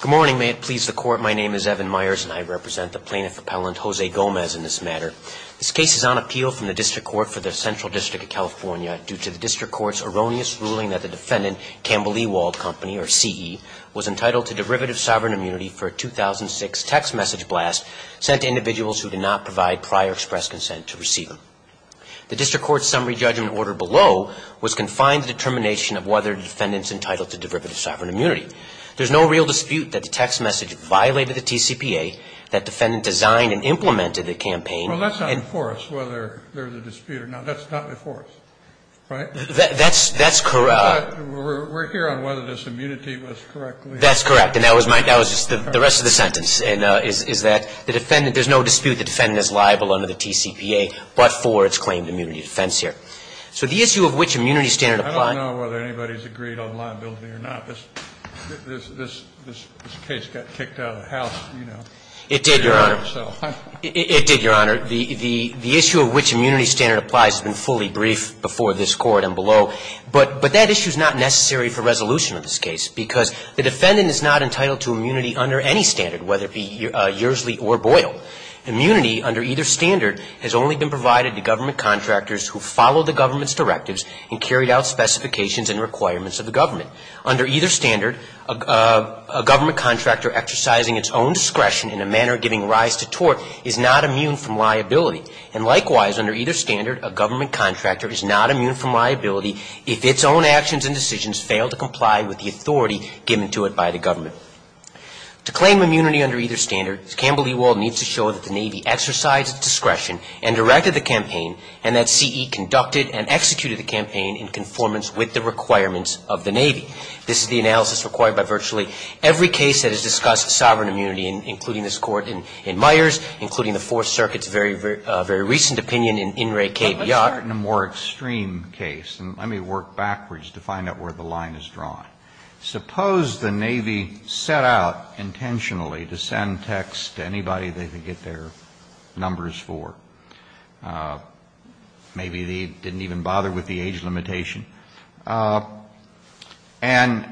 Good morning. May it please the Court, my name is Evan Myers and I represent the plaintiff appellant, Jose Gomez, in this matter. This case is on appeal from the District Court for the Central District of California due to the District Court's erroneous ruling that the defendant, Campbell-Ewald Company, or CE, was entitled to derivative sovereign immunity for a 2006 text message blast sent to individuals who did not provide prior express consent to receive them. The District Court's summary judgment order below was confined to determination of whether the defendant's entitled to derivative sovereign immunity. There's no real dispute that the text message violated the TCPA, that defendant designed and implemented the campaign. Well, that's not before us whether there's a dispute or not. That's not before us, right? That's correct. We're here on whether this immunity was correctly applied. That's correct. And that was the rest of the sentence, is that the defendant there's no dispute the defendant is liable under the TCPA but for its claimed immunity defense here. So the issue of which immunity standard applies I don't know whether anybody's agreed on liability or not. This case got kicked out of the House, you know. It did, Your Honor. It did, Your Honor. The issue of which immunity standard applies has been fully briefed before this Court and below. But that issue's not necessary for resolution of this case because the defendant is not entitled to immunity under any standard, whether it be Yersley or Boyle. Immunity under either standard has only been provided to government contractors who followed the government's specifications and requirements of the government. Under either standard, a government contractor exercising its own discretion in a manner of giving rise to tort is not immune from liability. And likewise, under either standard, a government contractor is not immune from liability if its own actions and decisions fail to comply with the authority given to it by the government. To claim immunity under either standard, Campbell v. Wald needs to show that the Navy exercised its discretion and directed the campaign and that CE conducted and executed the campaign in conformance with the requirements of the Navy. This is the analysis required by virtually every case that has discussed sovereign immunity, including this Court in Myers, including the Fourth Circuit's very, very recent opinion in In re Cape Yacht. Kennedy, in a more extreme case, and let me work backwards to find out where the line is drawn. Suppose the Navy set out intentionally to send texts to anybody they could get their numbers for. Maybe they didn't even bother with the age limitation and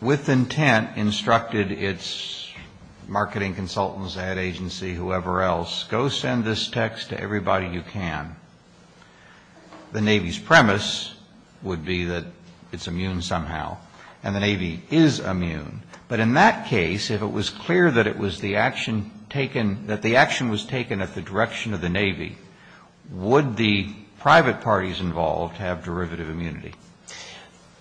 with intent instructed its marketing consultants, ad agency, whoever else, go send this text to everybody you can. The Navy's premise would be that it's immune somehow, and the Navy is immune. But in that case, if it was clear that it was the action taken, that the action was taken at the direction of the Navy, would the private parties involved have derivative immunity?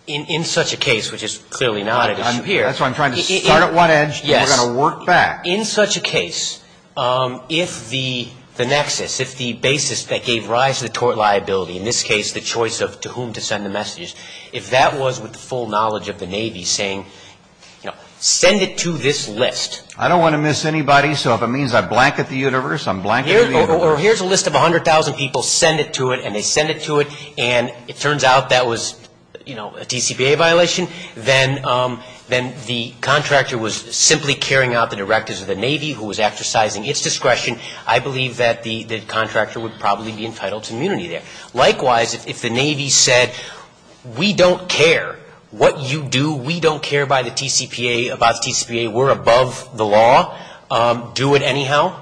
In such a case, which is clearly not an issue here. That's why I'm trying to start at one edge and we're going to work back. In such a case, if the nexus, if the basis that gave rise to the tort liability, in this case the choice of to whom to send the messages, if that was with the full knowledge of the Navy saying, you know, send it to this list. I don't want to miss anybody, so if it means I blanket the universe, I'm blanketing the universe. Or here's a list of 100,000 people, send it to it, and they send it to it, and it turns out that was, you know, a TCPA violation, then the contractor was simply carrying out the directives of the Navy who was exercising its discretion. I believe that the contractor would probably be entitled to immunity there. Likewise, if the Navy said, we don't care what you do, we don't care about the TCPA, we're above the law, do it anyhow,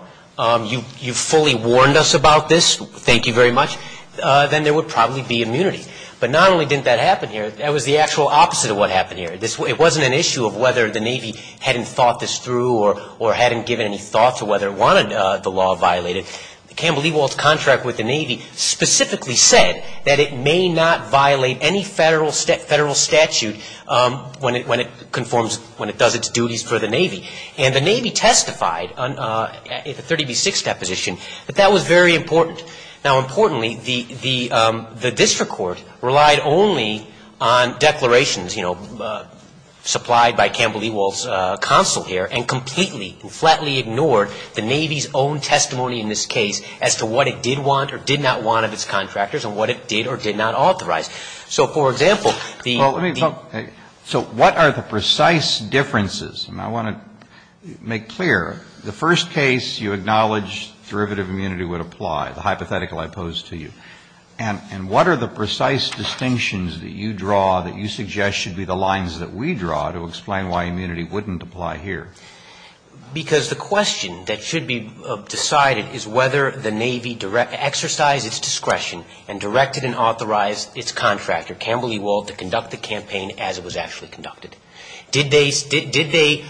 you fully warned us about this, thank you very much, then there would probably be immunity. But not only didn't that happen here, that was the actual opposite of what happened here. It wasn't an issue of whether the Navy hadn't thought this through or hadn't given any thought to whether it wanted the law violated. Campbell Ewald's contract with the Navy specifically said that it may not violate any federal statute when it conforms, when it does its duties for the Navy. And the Navy testified in the 30B6 deposition that that was very important. Now, importantly, the district court relied only on declarations, you know, supplied by Campbell Ewald's counsel here and completely and flatly ignored the Navy's own testimony in this case as to what it did want or did not want of its contractors and what it did or did not authorize. So, for example, the the Well, let me, so what are the precise differences? And I want to make clear, the first case you acknowledge derivative immunity would apply, the hypothetical I posed to you. And what are the precise distinctions that you draw that you suggest should be the lines that we draw to explain why immunity wouldn't apply here? Because the question that should be decided is whether the Navy exercised its discretion and directed and authorized its contractor, Campbell Ewald, to conduct the campaign as it was actually conducted. Did they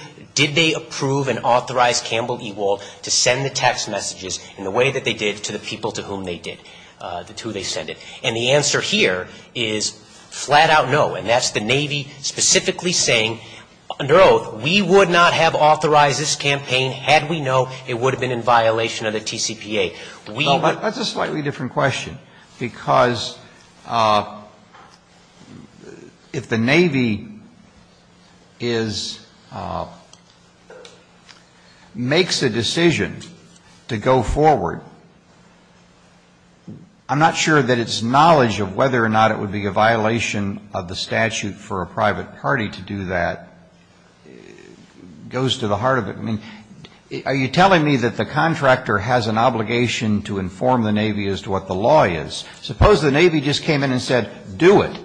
approve and authorize Campbell Ewald to send the text messages in the way that they did to the people to whom they did, to who they sent it? And the answer here is flat-out no. And that's the Navy specifically saying, under oath, we would not have authorized this campaign had we known it would have been in violation of the TCPA. We would Well, but that's a slightly different question, because if the Navy is, makes a decision to go forward, I'm not sure that its knowledge of whether or not it would be a violation of the statute for a private party to do that goes to the heart of it. I mean, are you telling me that the contractor has an obligation to inform the Navy as to what the law is? Suppose the Navy just came in and said, do it.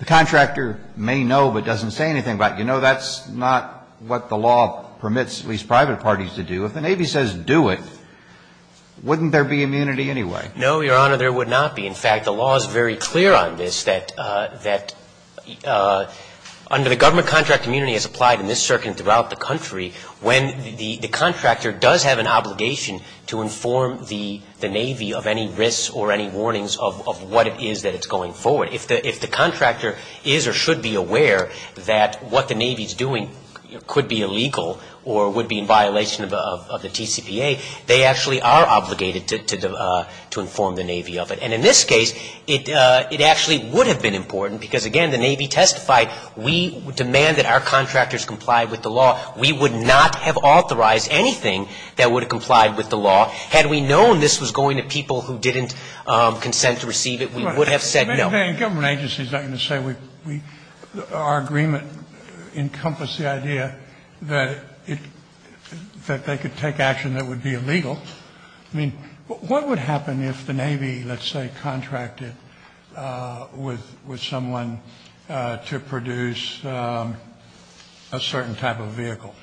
The contractor may know but doesn't say anything about it. You know, that's not what the law permits at least private parties to do. If the Navy says do it, wouldn't there be immunity anyway? No, Your Honor, there would not be. In fact, the law is very clear on this, that under the government contract, in this circuit and throughout the country, when the contractor does have an obligation to inform the Navy of any risks or any warnings of what it is that it's going forward. If the contractor is or should be aware that what the Navy is doing could be illegal or would be in violation of the TCPA, they actually are obligated to inform the Navy of it. And in this case, it actually would have been important, because again, the Navy testified, we demand that our contractors comply with the law. We would not have authorized anything that would have complied with the law. Had we known this was going to people who didn't consent to receive it, we would have said no. Sotomayor in government agencies is not going to say we, our agreement encompassed the idea that it, that they could take action that would be illegal. I mean, what would happen if the Navy, let's say, contracted with someone to produce a certain type of vehicle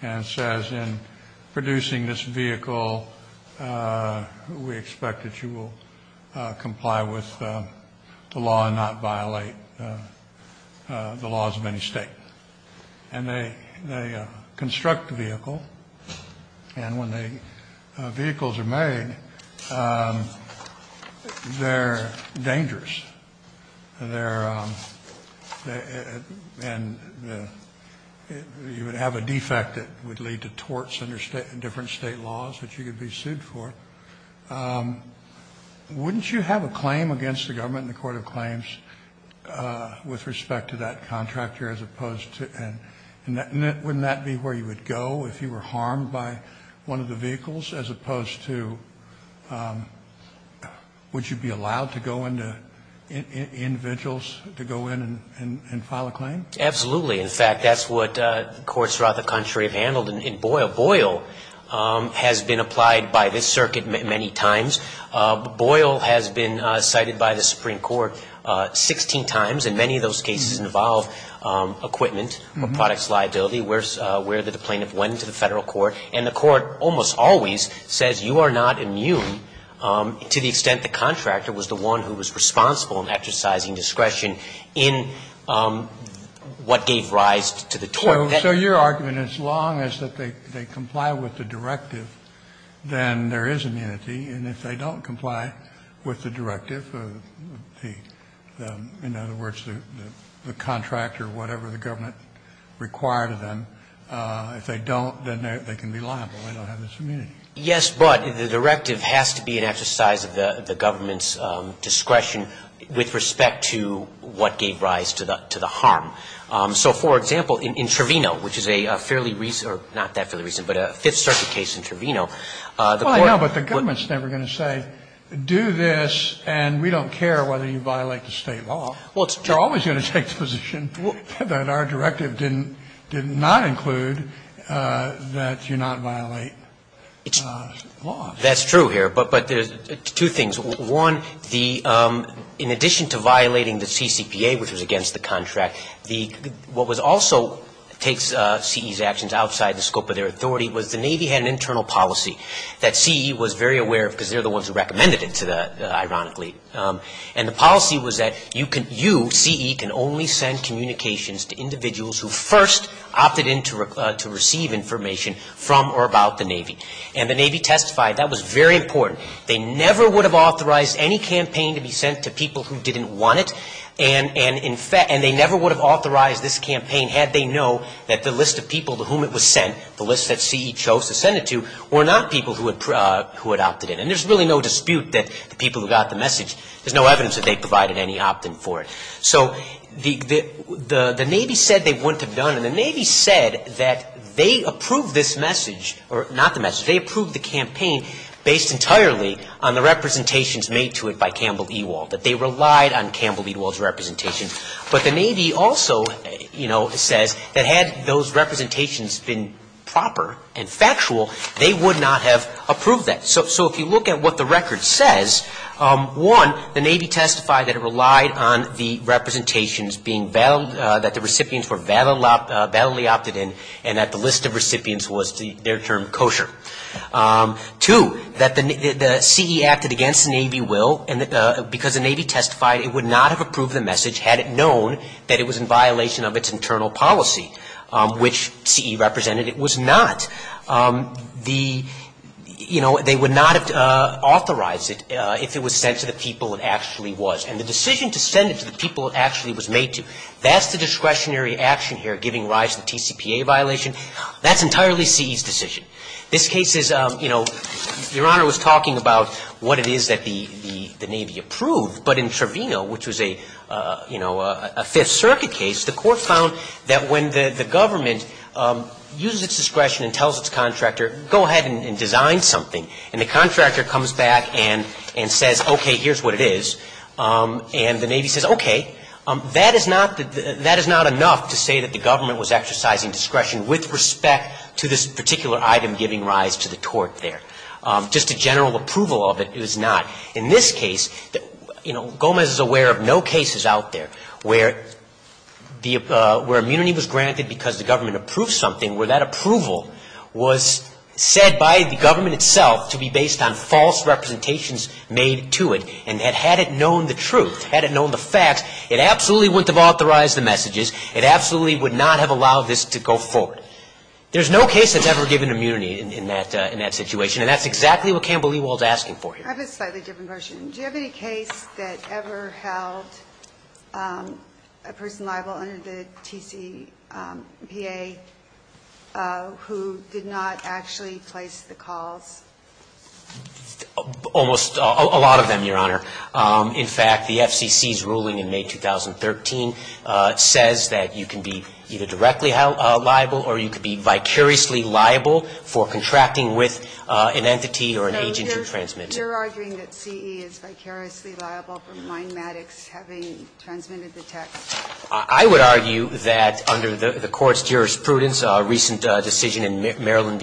and says in producing this vehicle, we expect that you will comply with the law and not violate the laws of any state. And they construct the vehicle, and when the vehicles are made, they're dangerous. And they're, and you would have a defect that would lead to torts under different state laws that you could be sued for. Wouldn't you have a claim against the government in the court of claims with respect to that contractor as opposed to, and wouldn't that be where you would go if you were individuals to go in and file a claim? Absolutely. In fact, that's what courts throughout the country have handled. In Boyle, Boyle has been applied by this circuit many times. Boyle has been cited by the Supreme Court 16 times, and many of those cases involve equipment, a product's liability, where the plaintiff went to the Federal Court. And the Court almost always says you are not immune to the extent the contractor was the one who was responsible in exercising discretion in what gave rise to the tort. So your argument is as long as they comply with the directive, then there is immunity. And if they don't comply with the directive, the, in other words, the contractor or whatever the government required of them, if they don't, then they can be liable. They don't have this immunity. Yes, but the directive has to be an exercise of the government's discretion with respect to what gave rise to the harm. So, for example, in Trevino, which is a fairly recent, or not that fairly recent, but a Fifth Circuit case in Trevino, the court was. Well, no, but the government is never going to say do this and we don't care whether you violate the State law. They are always going to take the position that our directive did not include that you not violate. That's true here, but there's two things. One, the, in addition to violating the CCPA, which was against the contract, what was also takes CE's actions outside the scope of their authority was the Navy had an internal policy that CE was very aware of because they're the ones who recommended it, ironically. And the policy was that you, CE, can only send communications to individuals who first opted in to receive information from or about the Navy. And the Navy testified that was very important. They never would have authorized any campaign to be sent to people who didn't want it, and they never would have authorized this campaign had they known that the list of people to whom it was sent, the list that CE chose to send it to, were not people who had opted in. And there's really no dispute that the people who got the message, there's no evidence that they provided any opt-in for it. So the Navy said they wouldn't have done it. And the Navy said that they approved this message, or not the message, they approved the campaign based entirely on the representations made to it by Campbell Ewald, that they relied on Campbell Ewald's representations. But the Navy also, you know, says that had those representations been proper and factual, they would not have approved that. So if you look at what the record says, one, the Navy testified that it relied on the representations being valid, that the recipients were validly opted in, and that the list of recipients was, their term, kosher. Two, that the CE acted against Navy will, and that because the Navy testified it would not have approved the message had it known that it was in violation of its internal policy, which CE represented it was not. The, you know, they would not have authorized it if it was sent to the people it actually was. And the decision to send it to the people it actually was made to, that's the discretionary action here, giving rise to the TCPA violation. That's entirely CE's decision. This case is, you know, Your Honor was talking about what it is that the Navy approved, but in Trevino, which was a, you know, a Fifth Circuit case, the court found that when the government uses its discretion and tells its contractor, go ahead and design something, and the contractor comes back and says, okay, here's what it is, and the Navy says, okay, that is not the, that is not enough to say that the government was exercising discretion with respect to this particular item giving rise to the tort there. Just a general approval of it is not. In this case, you know, Gomez is aware of no cases out there where the, where immunity was granted because the government approved something, where that approval was said by the government itself to be based on false representations made to it, and had it known the truth, had it known the facts, it absolutely wouldn't have authorized the messages. It absolutely would not have allowed this to go forward. There's no case that's ever given immunity in that, in that situation, and that's exactly what Campbell Ewald is asking for here. I have a slightly different question. Do you have any case that ever held a person liable under the TCPA who did not actually place the calls? Almost a lot of them, Your Honor. In fact, the FCC's ruling in May 2013 says that you can be either directly liable or you can be vicariously liable for contracting with an entity or an agent who transmitted. No, you're arguing that CE is vicariously liable for Mindematics having transmitted the text. I would argue that under the Court's jurisprudence, a recent decision in Maryland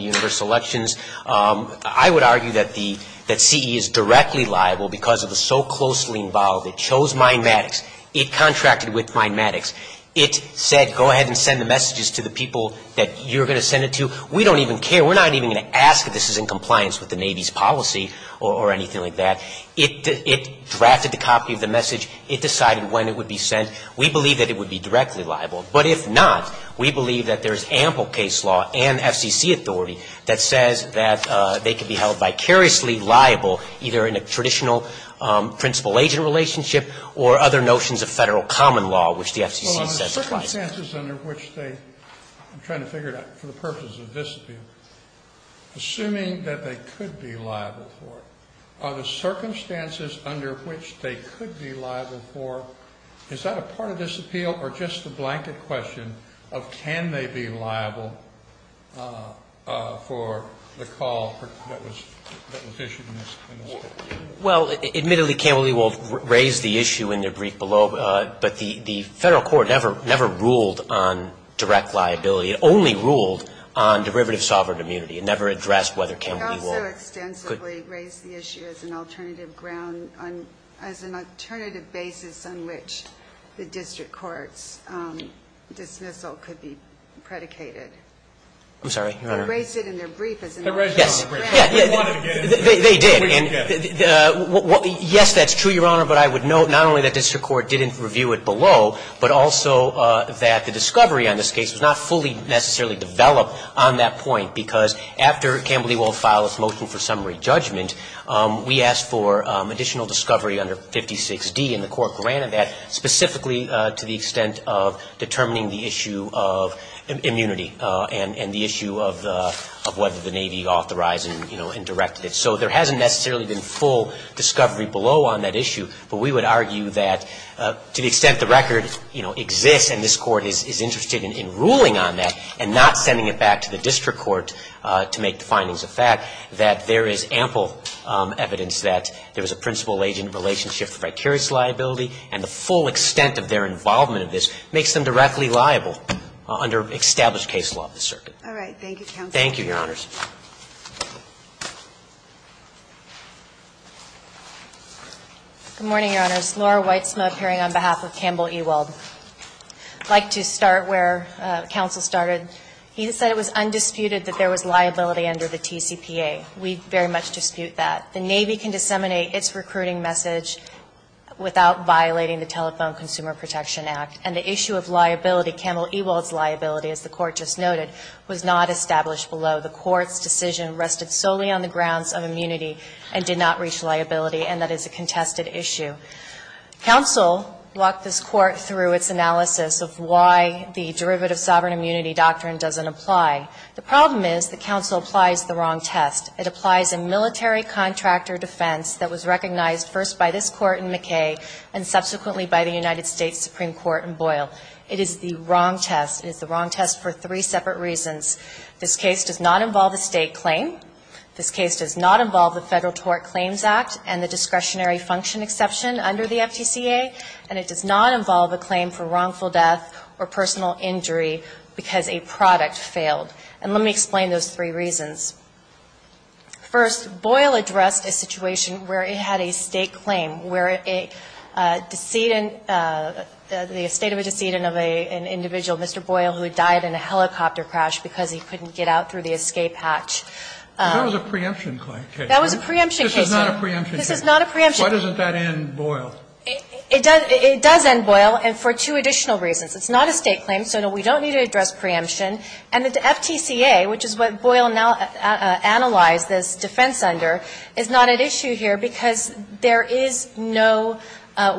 I would argue that CE is directly liable because it was so closely involved. It chose Mindematics. It contracted with Mindematics. It said, go ahead and send the messages to the people that you're going to send it to. We don't even care. We're not even going to ask if this is in compliance with the Navy's policy or anything like that. It drafted the copy of the message. It decided when it would be sent. We believe that it would be directly liable. But if not, we believe that there's ample case law and FCC authority that says that they could be held vicariously liable either in a traditional principal-agent relationship or other notions of Federal common law, which the FCC says is confidential. Well, are the circumstances under which they are trying to figure out for the purposes of this appeal, assuming that they could be liable for it, are the circumstances under which they could be liable for, is that a part of this appeal or just the blanket question of can they be liable for the call that was issued in this case? Well, admittedly Campbell E. Wold raised the issue in the brief below, but the Federal Court never ruled on direct liability. It only ruled on derivative sovereign immunity. It never addressed whether Campbell E. Wold could. It also extensively raised the issue as an alternative basis on which the District Court's dismissal could be predicated. I'm sorry, Your Honor. They raised it in their brief as an alternative. Yes. They wanted to get it. They did. Yes, that's true, Your Honor, but I would note not only that District Court didn't review it below, but also that the discovery on this case was not fully necessarily developed on that point, because after Campbell E. Wold filed his motion for summary judgment, we asked for additional discovery under 56D, and the Court granted that specifically to the extent of determining the issue of immunity and the issue of whether the Navy authorized and directed it. So there hasn't necessarily been full discovery below on that issue, but we would argue that to the extent the record exists and this Court is interested in ruling on that and not sending it back to the District Court to make the findings of fact, that there is ample evidence that there was a principal agent relationship and election. And that the recognition of the criteria of liability and the full extent of their involvement of this makes them directly liable under established case law of the Circuit. All right. Thank you, counsel. Thank you, Your Honors. Good morning Your Honors. Laura Weitzman appearing on behalf of Campbell E. Wold. I'd like to start where counsel started. He said it was undisputed that there was liability under the TCPA. We very much dispute that. The Navy can disseminate its recruiting message without violating the Telephone Consumer Protection Act. And the issue of liability, Campbell E. Wold's liability, as the court just noted, was not established below. The court's decision rested solely on the grounds of immunity and did not reach liability, and that is a contested issue. Counsel walked this court through its analysis of why the derivative sovereign immunity doctrine doesn't apply. The problem is the counsel applies the wrong test. It applies a military contractor defense that was recognized first by this court in McKay and subsequently by the United States Supreme Court in Boyle. It is the wrong test. It is the wrong test for three separate reasons. This case does not involve a state claim. This case does not involve the Federal Tort Claims Act and the discretionary function exception under the FTCA. And it does not involve a claim for wrongful death or personal injury because a product failed. And let me explain those three reasons. First, Boyle addressed a situation where it had a state claim, where a decedent the estate of a decedent of an individual, Mr. Boyle, who died in a helicopter crash because he couldn't get out through the escape hatch. That was a preemption case. That was a preemption case. This is not a preemption case. This is not a preemption case. Why doesn't that end Boyle? It does end Boyle for two additional reasons. It's not a state claim, so we don't need to address preemption. And the FTCA, which is what Boyle now analyzed this defense under, is not at issue here because there is no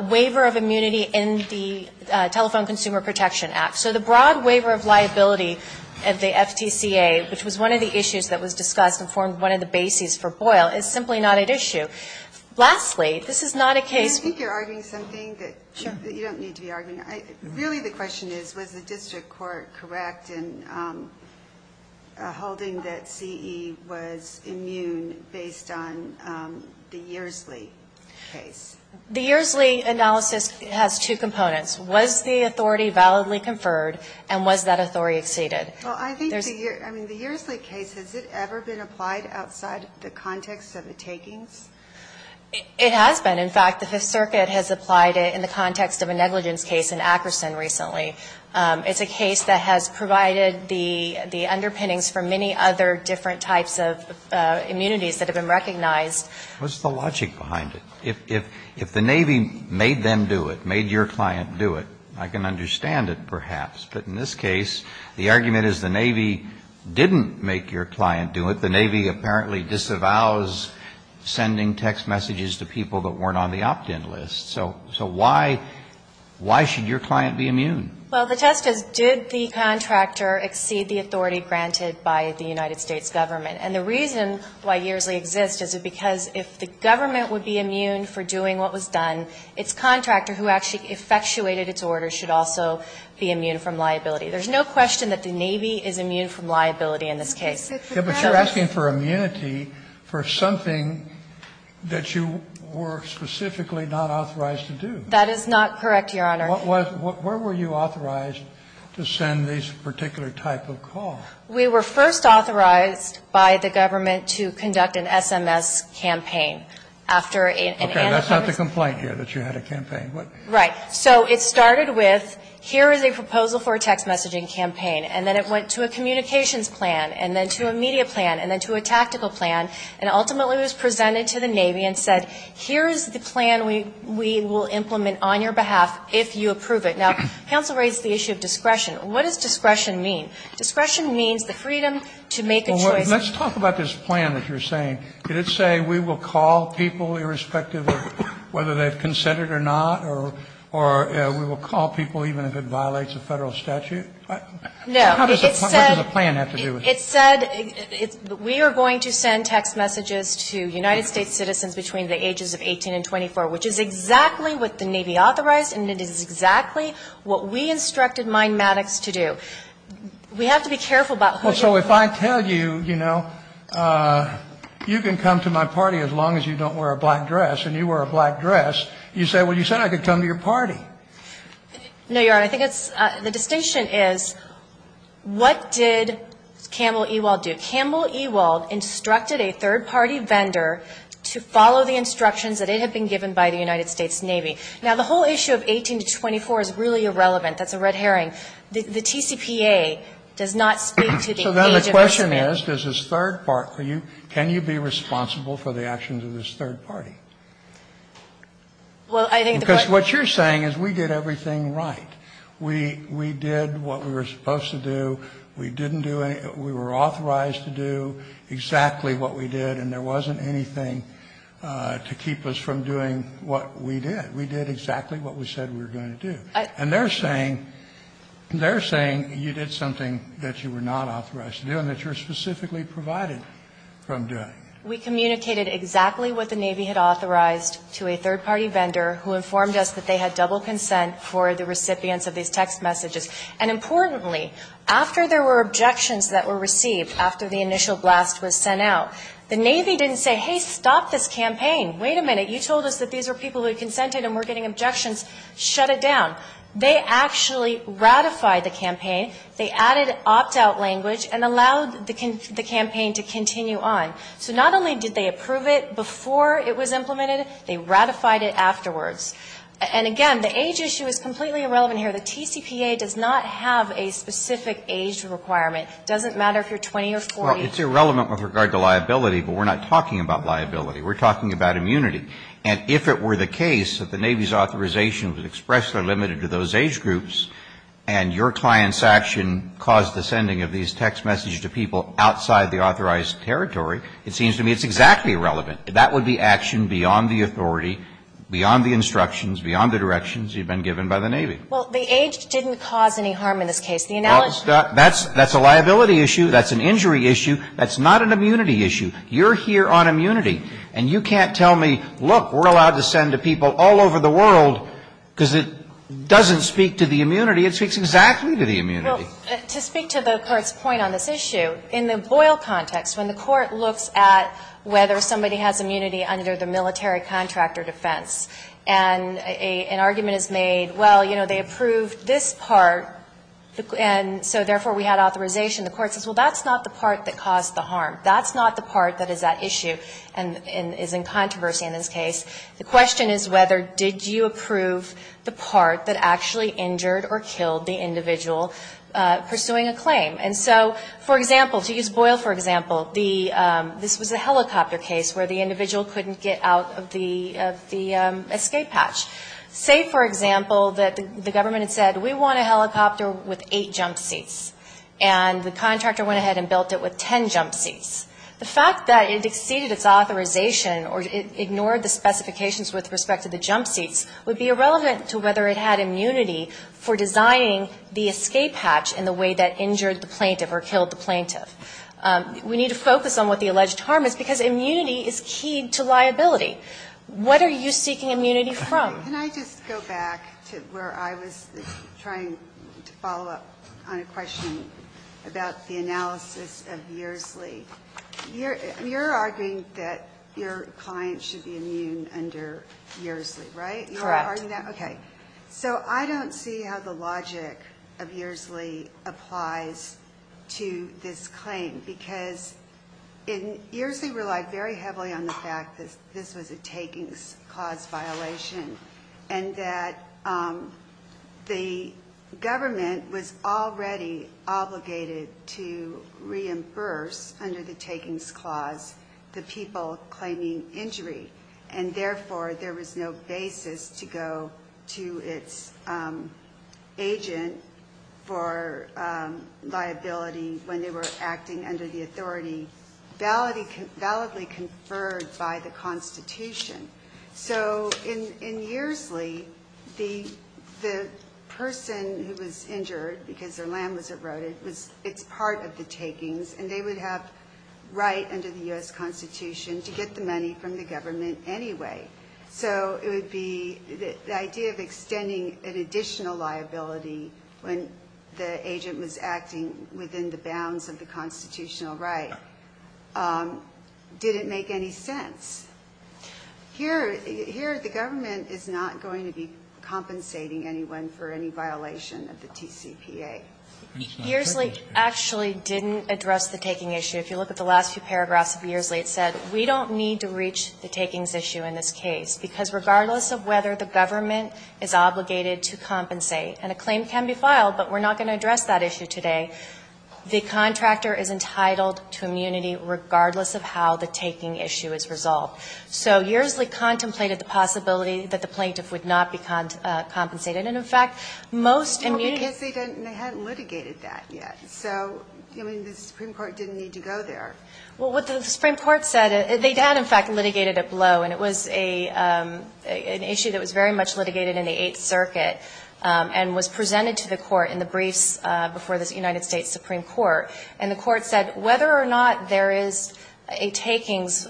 waiver of immunity in the Telephone Consumer Protection Act. So the broad waiver of liability of the FTCA, which was one of the issues that was discussed and formed one of the bases for Boyle, is simply not at issue. Lastly, this is not a case I think you're arguing something that you don't need to be arguing. Really, the question is, was the district court correct in holding that CE was immune based on the Yersley case? The Yersley analysis has two components. Was the authority validly conferred, and was that authority exceeded? Well, I think the Yersley case, has it ever been applied outside the context of the takings? It has been. In fact, the Fifth Circuit has applied it in the context of a negligence case in Akerson recently. It's a case that has provided the underpinnings for many other different types of immunities that have been recognized. What's the logic behind it? If the Navy made them do it, made your client do it, I can understand it perhaps. But in this case, the argument is the Navy didn't make your client do it. The Navy apparently disavows sending text messages to people that weren't on the opt-in list. So why should your client be immune? Well, the test is, did the contractor exceed the authority granted by the United States government? And the reason why Yersley exists is because if the government would be immune for doing what was done, its contractor, who actually effectuated its orders, should also be immune from liability. There's no question that the Navy is immune from liability in this case. But you're asking for immunity for something that you were specifically not authorized to do. That is not correct, Your Honor. Where were you authorized to send this particular type of call? We were first authorized by the government to conduct an SMS campaign. Okay. That's not the complaint here, that you had a campaign. Right. So it started with, here is a proposal for a text messaging campaign. And then it went to a communications plan, and then to a media plan, and then to a tactical plan, and ultimately was presented to the Navy and said, here is the plan we will implement on your behalf if you approve it. Now, counsel raised the issue of discretion. What does discretion mean? Discretion means the freedom to make a choice. Well, let's talk about this plan that you're saying. Did it say we will call people irrespective of whether they've consented or not, or we will call people even if it violates a Federal statute? No. It said. What does a plan have to do with it? It said we are going to send text messages to United States citizens between the ages of 18 and 24, which is exactly what the Navy authorized, and it is exactly what we instructed my Maddox to do. We have to be careful about who gets who. Well, so if I tell you, you know, you can come to my party as long as you don't wear a black dress, and you wear a black dress, you say, well, you said I could come to your party. No, Your Honor. I think it's the distinction is what did Campbell Ewald do? Campbell Ewald instructed a third-party vendor to follow the instructions that it had been given by the United States Navy. Now, the whole issue of 18 to 24 is really irrelevant. That's a red herring. The TCPA does not speak to the age of 18. So then the question is, does this third party, can you be responsible for the actions of this third party? Well, I think the question is. Because what you're saying is we did everything right. We did what we were supposed to do. We didn't do anything. We were authorized to do exactly what we did, and there wasn't anything to keep us from doing what we did. We did exactly what we said we were going to do. And they're saying, they're saying you did something that you were not authorized to do and that you were specifically provided from doing. We communicated exactly what the Navy had authorized to a third-party vendor who informed us that they had double consent for the recipients of these text messages. And importantly, after there were objections that were received after the initial blast was sent out, the Navy didn't say, hey, stop this campaign. Wait a minute. You told us that these were people who had consented and were getting objections. Shut it down. They actually ratified the campaign. They added opt-out language and allowed the campaign to continue on. So not only did they approve it before it was implemented, they ratified it afterwards. And, again, the age issue is completely irrelevant here. The TCPA does not have a specific age requirement. It doesn't matter if you're 20 or 40. Well, it's irrelevant with regard to liability, but we're not talking about liability. We're talking about immunity. And if it were the case that the Navy's authorization was expressly limited to those age groups and your client's action caused the sending of these text messages to people outside the authorized territory, it seems to me it's exactly irrelevant. That would be action beyond the authority, beyond the instructions, beyond the directions you've been given by the Navy. Well, the age didn't cause any harm in this case. The analogy is that's a liability issue. That's an injury issue. That's not an immunity issue. You're here on immunity. And you can't tell me, look, we're allowed to send to people all over the world because it doesn't speak to the immunity. It speaks exactly to the immunity. Well, to speak to the Court's point on this issue, in the Boyle context, when the military contractor defense, and an argument is made, well, you know, they approved this part, and so therefore we had authorization, the Court says, well, that's not the part that caused the harm. That's not the part that is at issue and is in controversy in this case. The question is whether did you approve the part that actually injured or killed the individual pursuing a claim. And so, for example, to use Boyle for example, the this was a helicopter case where the individual couldn't get out of the escape hatch. Say, for example, that the government had said, we want a helicopter with eight jump seats. And the contractor went ahead and built it with ten jump seats. The fact that it exceeded its authorization or it ignored the specifications with respect to the jump seats would be irrelevant to whether it had immunity for designing the escape hatch in the way that injured the plaintiff or killed the plaintiff. We need to focus on what the alleged harm is, because immunity is keyed to liability. What are you seeking immunity from? Ginsburg. Can I just go back to where I was trying to follow up on a question about the analysis of Yersley? You're arguing that your client should be immune under Yersley, right? Correct. Okay. So I don't see how the logic of Yersley applies to this claim, because Yersley relied very heavily on the fact that this was a takings clause violation and that the government was already obligated to reimburse under the takings clause the people claiming injury. And, therefore, there was no basis to go to its agent for liability when they were acting under the authority validly conferred by the Constitution. So in Yersley, the person who was injured because their land was eroded, it's part of the takings, and they would have right under the U.S. Constitution to get the money from the government anyway. So it would be the idea of extending an additional liability when the agent was acting within the bounds of the constitutional right didn't make any sense. Here, the government is not going to be compensating anyone for any violation of the TCPA. Yersley actually didn't address the taking issue. If you look at the last few paragraphs of Yersley, it said we don't need to reach the takings issue in this case, because regardless of whether the government is obligated to compensate, and a claim can be filed, but we're not going to address that issue today, the contractor is entitled to immunity regardless of how the taking issue is resolved. So Yersley contemplated the possibility that the plaintiff would not be compensated. And, in fact, most immunity ---- So, I mean, the Supreme Court didn't need to go there. Well, what the Supreme Court said, they had, in fact, litigated a blow, and it was an issue that was very much litigated in the Eighth Circuit and was presented to the Court in the briefs before the United States Supreme Court. And the Court said whether or not there is a takings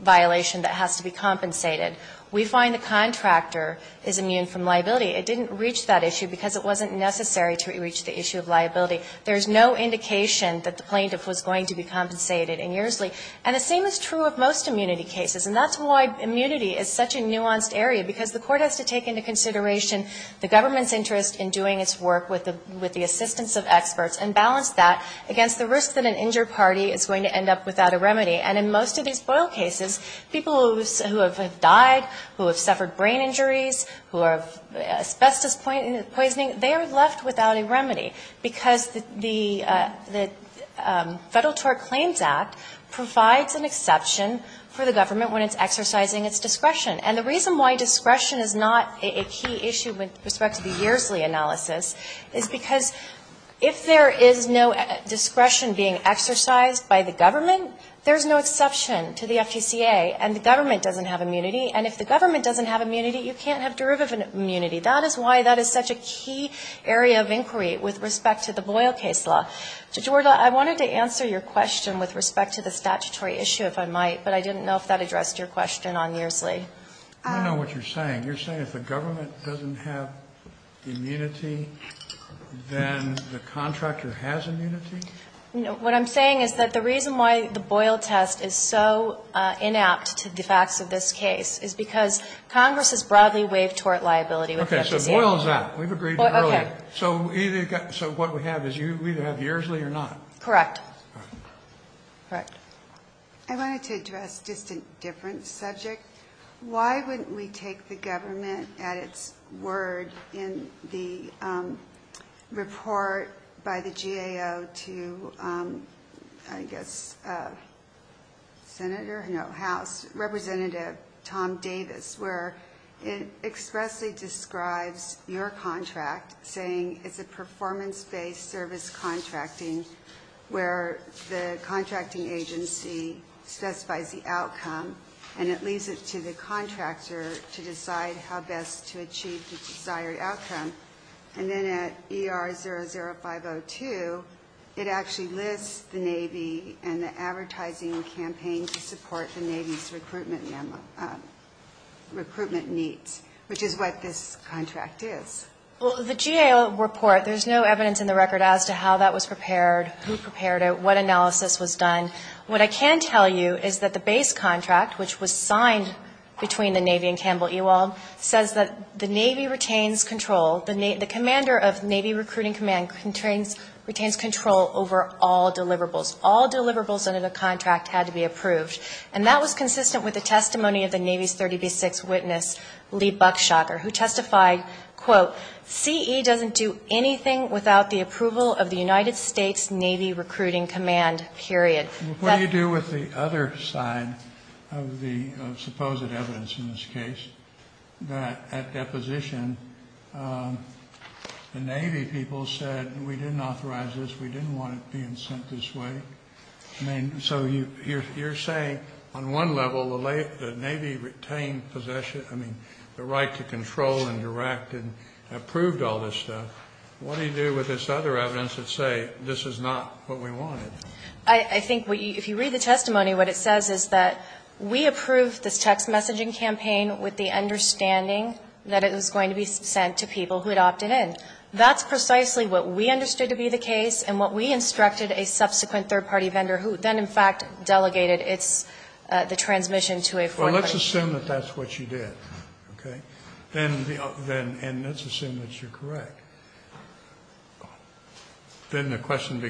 violation that has to be compensated, we find the contractor is immune from liability. It didn't reach that issue because it wasn't necessary to reach the issue of liability. There is no indication that the plaintiff was going to be compensated in Yersley. And the same is true of most immunity cases. And that's why immunity is such a nuanced area, because the Court has to take into consideration the government's interest in doing its work with the assistance of experts and balance that against the risk that an injured party is going to end up without a remedy. And in most of these FOIL cases, people who have died, who have suffered brain injuries, who have asbestos poisoning, they are left without a remedy, because the Federal Tort Claims Act provides an exception for the government when it's exercising its discretion. And the reason why discretion is not a key issue with respect to the Yersley analysis is because if there is no discretion being exercised by the government, there is no exception to the FTCA, and the government doesn't have immunity. And if the government doesn't have immunity, you can't have derivative immunity. That is why that is such a key area of inquiry with respect to the Boyle case law. So, Georgia, I wanted to answer your question with respect to the statutory issue, if I might, but I didn't know if that addressed your question on Yersley. I don't know what you're saying. You're saying if the government doesn't have immunity, then the contractor has immunity? No. What I'm saying is that the reason why the Boyle test is so inapt to the facts of this case is because Congress has broadly waived tort liability with respect to the Yersley. Okay. So Boyle is out. We've agreed earlier. Okay. So what we have is you either have Yersley or not. Correct. Correct. I wanted to address just a different subject. Why wouldn't we take the government at its word in the report by the GAO to, I guess, Senator House, Representative Tom Davis, where it expressly describes your contract saying it's a performance-based service contracting where the contracting agency specifies the outcome, and it leaves it to the contractor to decide how best to achieve the desired outcome. And then at ER00502, it actually lists the Navy and the advertising campaign to support the Navy's recruitment needs, which is what this contract is. Well, the GAO report, there's no evidence in the record as to how that was prepared, who prepared it, what analysis was done. What I can tell you is that the base contract, which was signed between the Navy and Campbell Ewald, says that the Navy retains control. The commander of Navy Recruiting Command retains control over all deliverables. All deliverables under the contract had to be approved. And that was consistent with the testimony of the Navy's 30B6 witness, Lee Buckshocker, who testified, quote, CE doesn't do anything without the approval of the United States Navy Recruiting Command, period. But what do you do with the other side of the supposed evidence in this case, that at deposition the Navy people said we didn't authorize this, we didn't want it being sent this way? I mean, so you're saying on one level the Navy retained possession, I mean, the right to control and direct and approved all this stuff. What do you do with this other evidence that say this is not what we wanted? I think if you read the testimony, what it says is that we approved this text messaging campaign with the understanding that it was going to be sent to people who had opted in. That's precisely what we understood to be the case and what we instructed a subsequent third-party vendor who then, in fact, delegated its the transmission to a foreign country. Well, let's assume that that's what you did, okay? And let's assume that you're correct. Then the question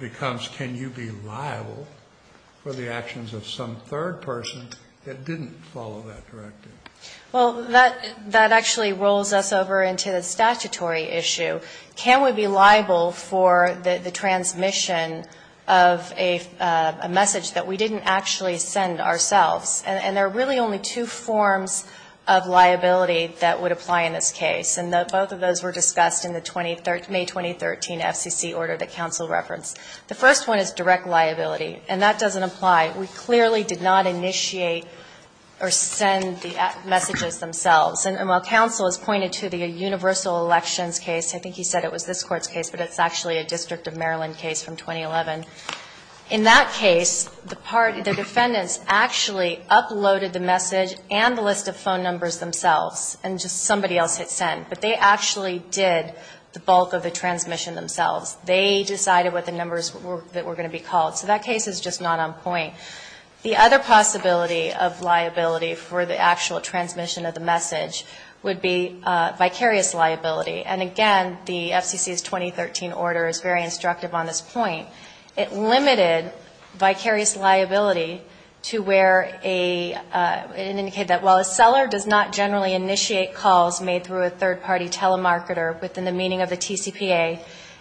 becomes can you be liable for the actions of some third person that didn't follow that directive? Well, that actually rolls us over into the statutory issue. Can we be liable for the transmission of a message that we didn't actually send ourselves? And there are really only two forms of liability that would apply in this case, and both of those were discussed in the May 2013 FCC order that counsel referenced. The first one is direct liability, and that doesn't apply. We clearly did not initiate or send the messages themselves. And while counsel has pointed to the universal elections case, I think he said it was this Court's case, but it's actually a District of Maryland case from 2011, in that case, the defendants actually uploaded the message and the list of phone numbers themselves, and just somebody else had sent. But they actually did the bulk of the transmission themselves. They decided what the numbers that were going to be called. So that case is just not on point. The other possibility of liability for the actual transmission of the message would be vicarious liability. And again, the FCC's 2013 order is very instructive on this point. It limited vicarious liability to where a, it indicated that while a seller does not generally initiate calls made through a third-party telemarketer within the meaning of the TCPA,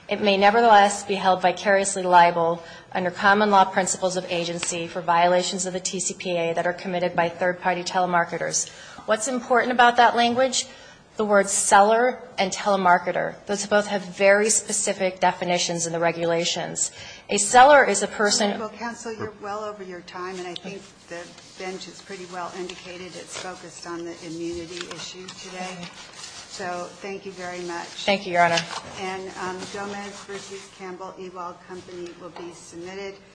it may nevertheless be held vicariously liable under common law principles of agency for violations of the TCPA that are committed by third-party telemarketers. What's important about that language? The word seller and telemarketer. Those both have very specific definitions in the regulations. A seller is a person who... Counsel, you're well over your time, and I think the bench has pretty well indicated it's focused on the immunity issue today. So thank you very much. Thank you, Your Honor.